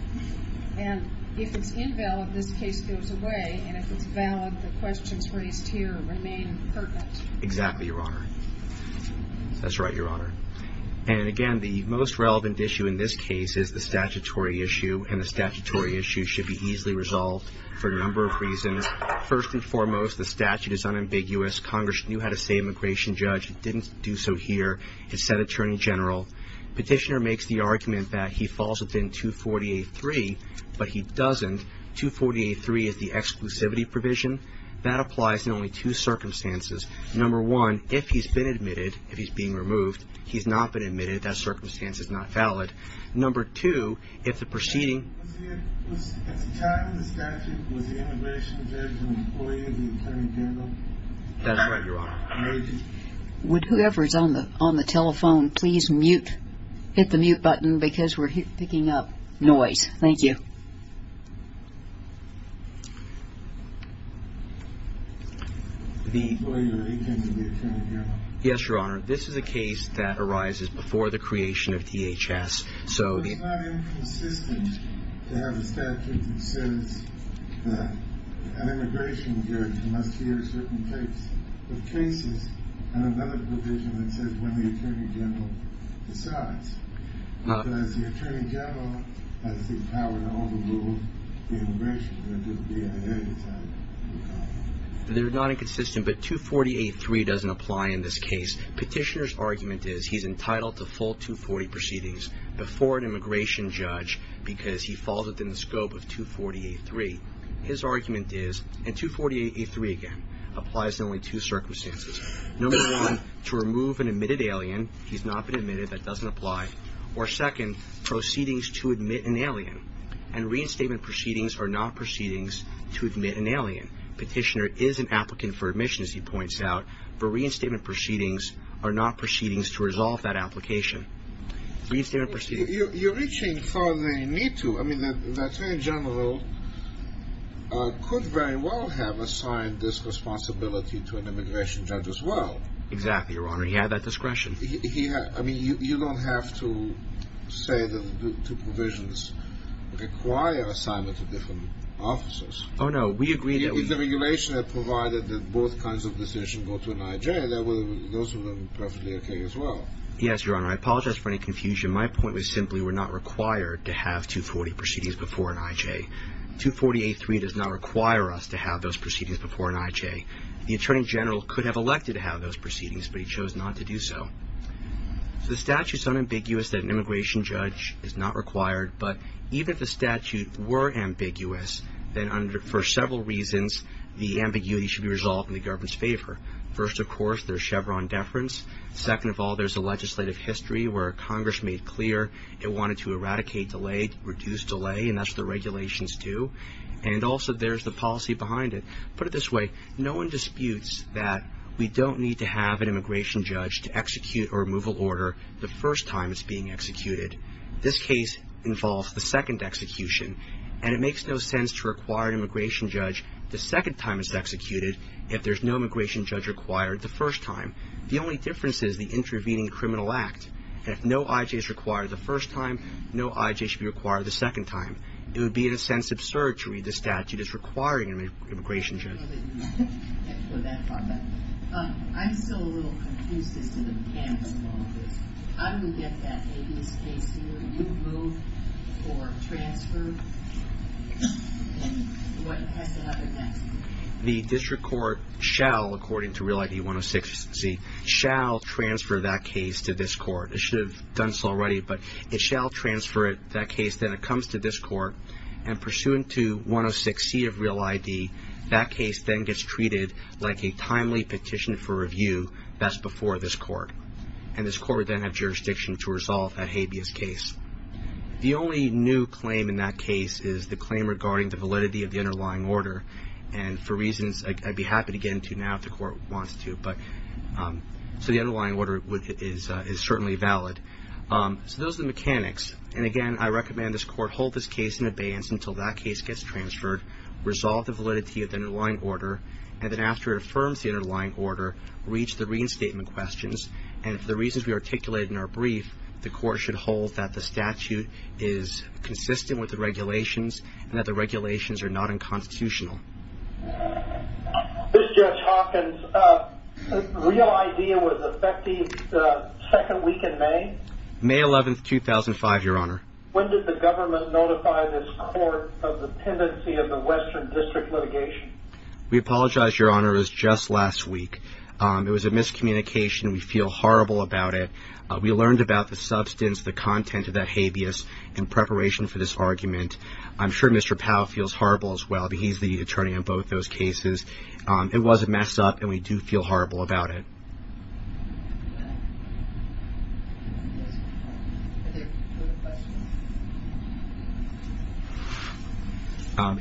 And if it's invalid... this case goes away... and if it's valid... the questions raised here... remain pertinent. Exactly, Your Honor. That's right, Your Honor. And again, the most relevant issue... in this case... is the statutory issue... and the statutory issue... should be easily resolved... for a number of reasons. First and foremost... the statute is unambiguous. Congress knew how to say immigration judge. It didn't do so here. It said attorney general. Petitioner makes the argument... that he falls within 248.3... but he doesn't. 248.3 is the exclusivity provision. That applies in only two circumstances. Number one... if he's been admitted... if he's being removed... he's not been admitted... that circumstance is not valid. Number two... if the proceeding... That's right, Your Honor. Would whoever is on the telephone... please mute... hit the mute button... because we're picking up noise. Thank you. Yes, Your Honor. This is a case that arises... before the creation of DHS. It's not inconsistent... to have a statute that says... that an immigration judge... must hear certain types of cases... and another provision that says... when the attorney general decides. Because the attorney general... has the power to overrule... the immigration judge... or the BIA... as I recall. They're not inconsistent... but 248.3 doesn't apply in this case. Petitioner's argument is... he's entitled to full 240 proceedings. Before an immigration judge... because he falls within the scope of 248.3. His argument is... and 248.3 again... applies to only two circumstances. Number one... to remove an admitted alien... he's not been admitted... that doesn't apply. Or second... proceedings to admit an alien. And reinstatement proceedings... are not proceedings... to admit an alien. Petitioner is an applicant for admission... as he points out. But reinstatement proceedings... are not proceedings... to resolve that application. Reinstatement proceedings... You're reaching further than you need to. I mean... the attorney general... could very well have assigned... this responsibility... to an immigration judge as well. Exactly, your honor. He had that discretion. He had... I mean... you don't have to... say that the two provisions... require assignment to different officers. Oh, no. We agree that... If the regulation had provided... that both kinds of decisions... go to an IJ... those would have been perfectly okay as well. Yes, your honor. I apologize for any confusion. My point was simply... we're not required... to have 240 proceedings... before an IJ. 240A3 does not require us... to have those proceedings... before an IJ. The attorney general... could have elected... to have those proceedings... but he chose not to do so. The statute is unambiguous... that an immigration judge... is not required. But... even if the statute... were ambiguous... then under... for several reasons... the ambiguity should be resolved... in the government's favor. First of course... there's Chevron deference. Second of all... there's a legislative history... where Congress made clear... it wanted to eradicate delay... reduce delay... and that's what the regulations do. And also... there's the policy behind it. Put it this way... no one disputes... that we don't need to have... an immigration judge... to execute a removal order... the first time it's being executed. This case involves... the second execution. And it makes no sense... to require an immigration judge... the second time it's executed... if there's no immigration judge required... the first time. The only difference is... the intervening criminal act. And if no I.J. is required... the first time... no I.J. should be required... the second time. It would be in a sense absurd... to read the statute... as requiring an immigration judge. I know that you meant that... for that part. But... I'm still a little confused... as to the mechanics of all this. How do we get that... ambiguous case here... removed... or transferred... and what has to happen next? The district court shall... according to Real ID 106-C... shall transfer that case... to this court. It should have done so already... but it shall transfer that case... then it comes to this court... and pursuant to 106-C of Real ID... that case then gets treated... like a timely petition for review... that's before this court. And this court would then have jurisdiction... to resolve that habeas case. The only new claim in that case... is the claim regarding the validity... of the underlying order. And for reasons... I'd be happy to get into now... if the court wants to. But... so the underlying order... is certainly valid. So those are the mechanics. And again... I recommend this court... hold this case in abeyance... until that case gets transferred... resolve the validity... of the underlying order... and then after it affirms... the underlying order... reach the reinstatement questions. And for the reasons... we articulated in our brief... the court should hold... that the statute... is consistent with the regulations... and that the regulations... are not unconstitutional. This is Judge Hawkins. Real idea was effective... the second week in May? May 11th, 2005, Your Honor. When did the government... notify this court... of the pendency... of the Western District litigation? We apologize, Your Honor. It was just last week. It was a miscommunication. We feel horrible about it. We learned about the substance... the content of that habeas... in preparation for this argument. I'm sure Mr. Powell... feels horrible as well. He's the attorney on both those cases. It was a mess up. And we do feel horrible about it.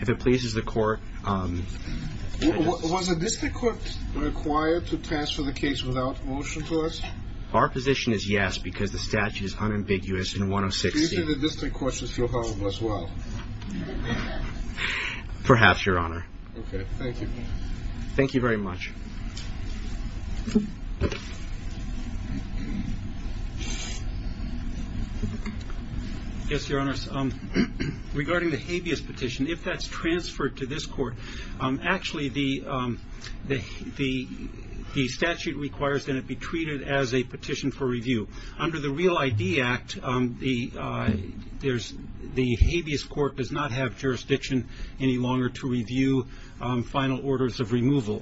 If it pleases the court... Was the district court... required to transfer the case... without motion to us? Our position is yes... because the statute is unambiguous... in 106C. Is it the district court... should feel horrible as well? Perhaps, Your Honor. Okay, thank you. Thank you very much. Yes, Your Honor. Regarding the habeas petition... if that's transferred to this court... actually, the statute requires... that it be treated as a petition for review. Under the Real ID Act... the habeas court does not have jurisdiction... any longer to review... final orders of removal.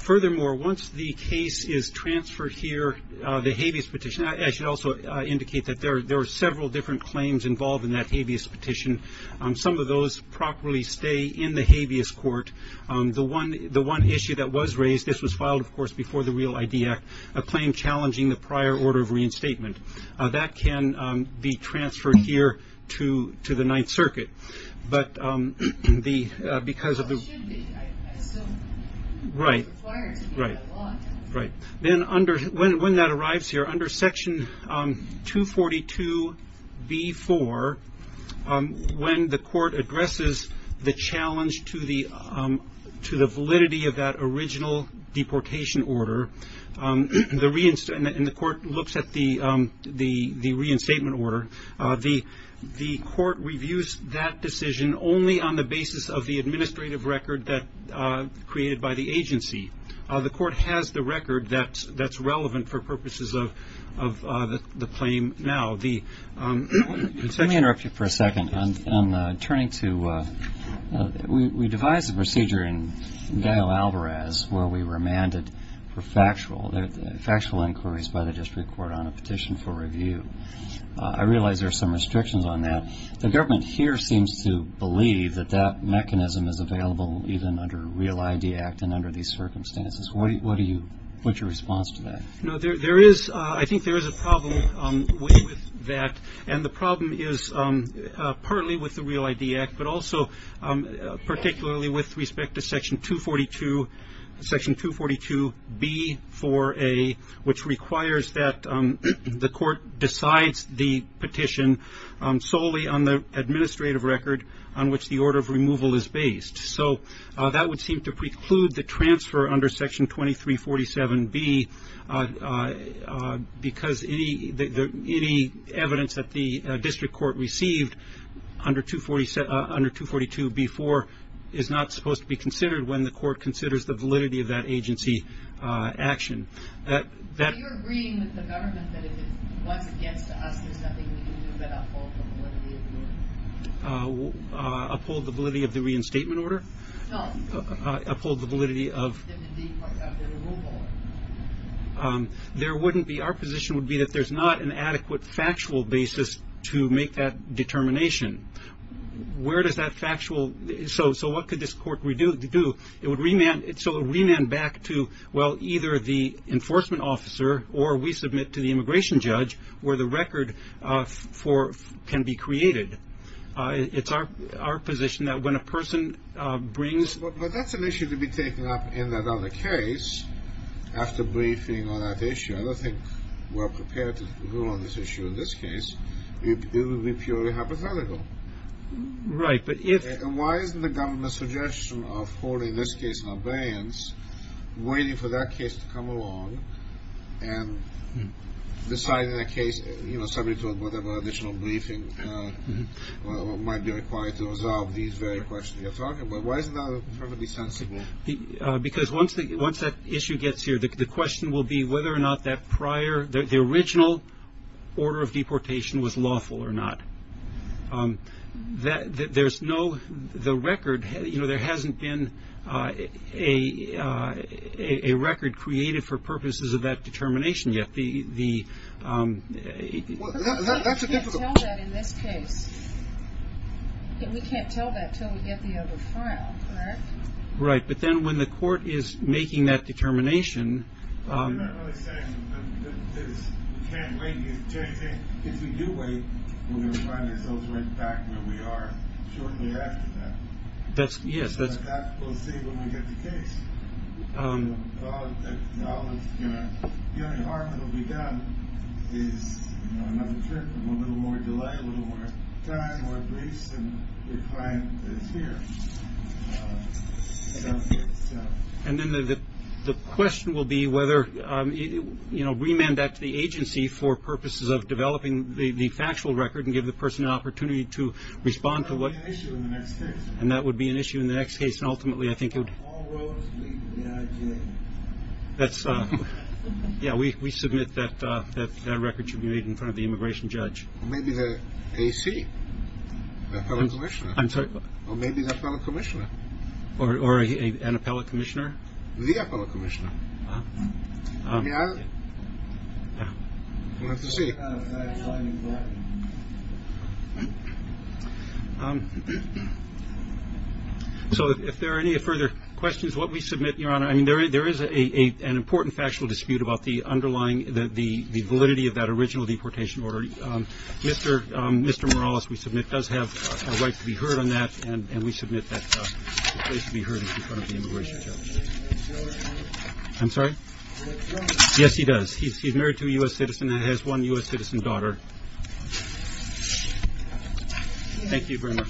Furthermore, once the case is transferred here... the habeas petition... I should also indicate... that there are several different claims... involved in that habeas petition. Some of those properly stay in the habeas court. The one issue that was raised... this was filed, of course, before the Real ID Act... a claim challenging the prior order of reinstatement. That can be transferred here... to the Ninth Circuit. But because of the... It should be, I assume. Right. It's required to be in the law. Right. Then, when that arrives here... under Section 242b-4... when the court addresses... the challenge to the validity... of that original deportation order... and the court looks at the reinstatement order... the court reviews that decision... only on the basis of the administrative record... created by the agency. The court has the record that's relevant... for purposes of the claim now. Let me interrupt you for a second. I'm turning to... We devised the procedure in Gael Alvarez... where we remanded for factual inquiries... by the district court on a petition for review. I realize there are some restrictions on that. The government here seems to believe... that that mechanism is available... even under Real ID Act... and under these circumstances. What's your response to that? I think there is a problem with that. The problem is partly with the Real ID Act... but also particularly with respect to Section 242b-4a... which requires that the court decides the petition... solely on the administrative record... on which the order of removal is based. That would seem to preclude the transfer... under Section 2347b... because any evidence that the district court received... under 242b-4... is not supposed to be considered... when the court considers the validity of that agency action. Are you agreeing with the government... that if it was against us... there's nothing we can do but uphold the validity of the order? Uphold the validity of the reinstatement order? No. Uphold the validity of... of the removal order. Our position would be... that there's not an adequate factual basis... to make that determination. Where does that factual... So what could this court do? It would remand back to... either the enforcement officer... or we submit to the immigration judge... where the record can be created. It's our position that when a person brings... But that's an issue to be taken up in another case... after briefing on that issue. I don't think we're prepared to rule on this issue in this case. It would be purely hypothetical. Right, but if... And why isn't the government's suggestion... of holding this case in abeyance... waiting for that case to come along... and deciding a case... subject to whatever additional briefing... might be required to resolve... these very questions you're talking about. Why is it not perfectly sensible? Because once that issue gets here... the question will be whether or not that prior... the original order of deportation... was lawful or not. There's no... the record... There hasn't been... a record created... for purposes of that determination yet. The... That's a difficult... We can't tell that in this case. We can't tell that... until we get the other file, correct? Right, but then when the court... is making that determination... You're not really saying... that we can't wait. If we do wait... we're going to find ourselves right back... where we are shortly after that. Yes, that's... We'll see when we get the case. The only harm that will be done... is another trip... a little more delay... a little more time, more briefs... and the client is here. And then the question will be... whether... remand that to the agency... for purposes of developing the factual record... and give the person an opportunity... to respond to what... And that would be an issue in the next case. Ultimately, I think it would... That's... We submit that... that record should be made... in front of the immigration judge. Maybe the AC? Or maybe the appellate commissioner? Or an appellate commissioner? The appellate commissioner. We'll have to see. Um... So, if there are any further questions... what we submit, Your Honor... I mean, there is an important factual dispute... about the underlying... the validity of that original deportation order. Mr. Morales, we submit... does have a right to be heard on that... and we submit that the case should be heard... in front of the immigration judge. I'm sorry? Yes, he does. He's married to a U.S. citizen... and has one U.S. citizen daughter. Thank you very much.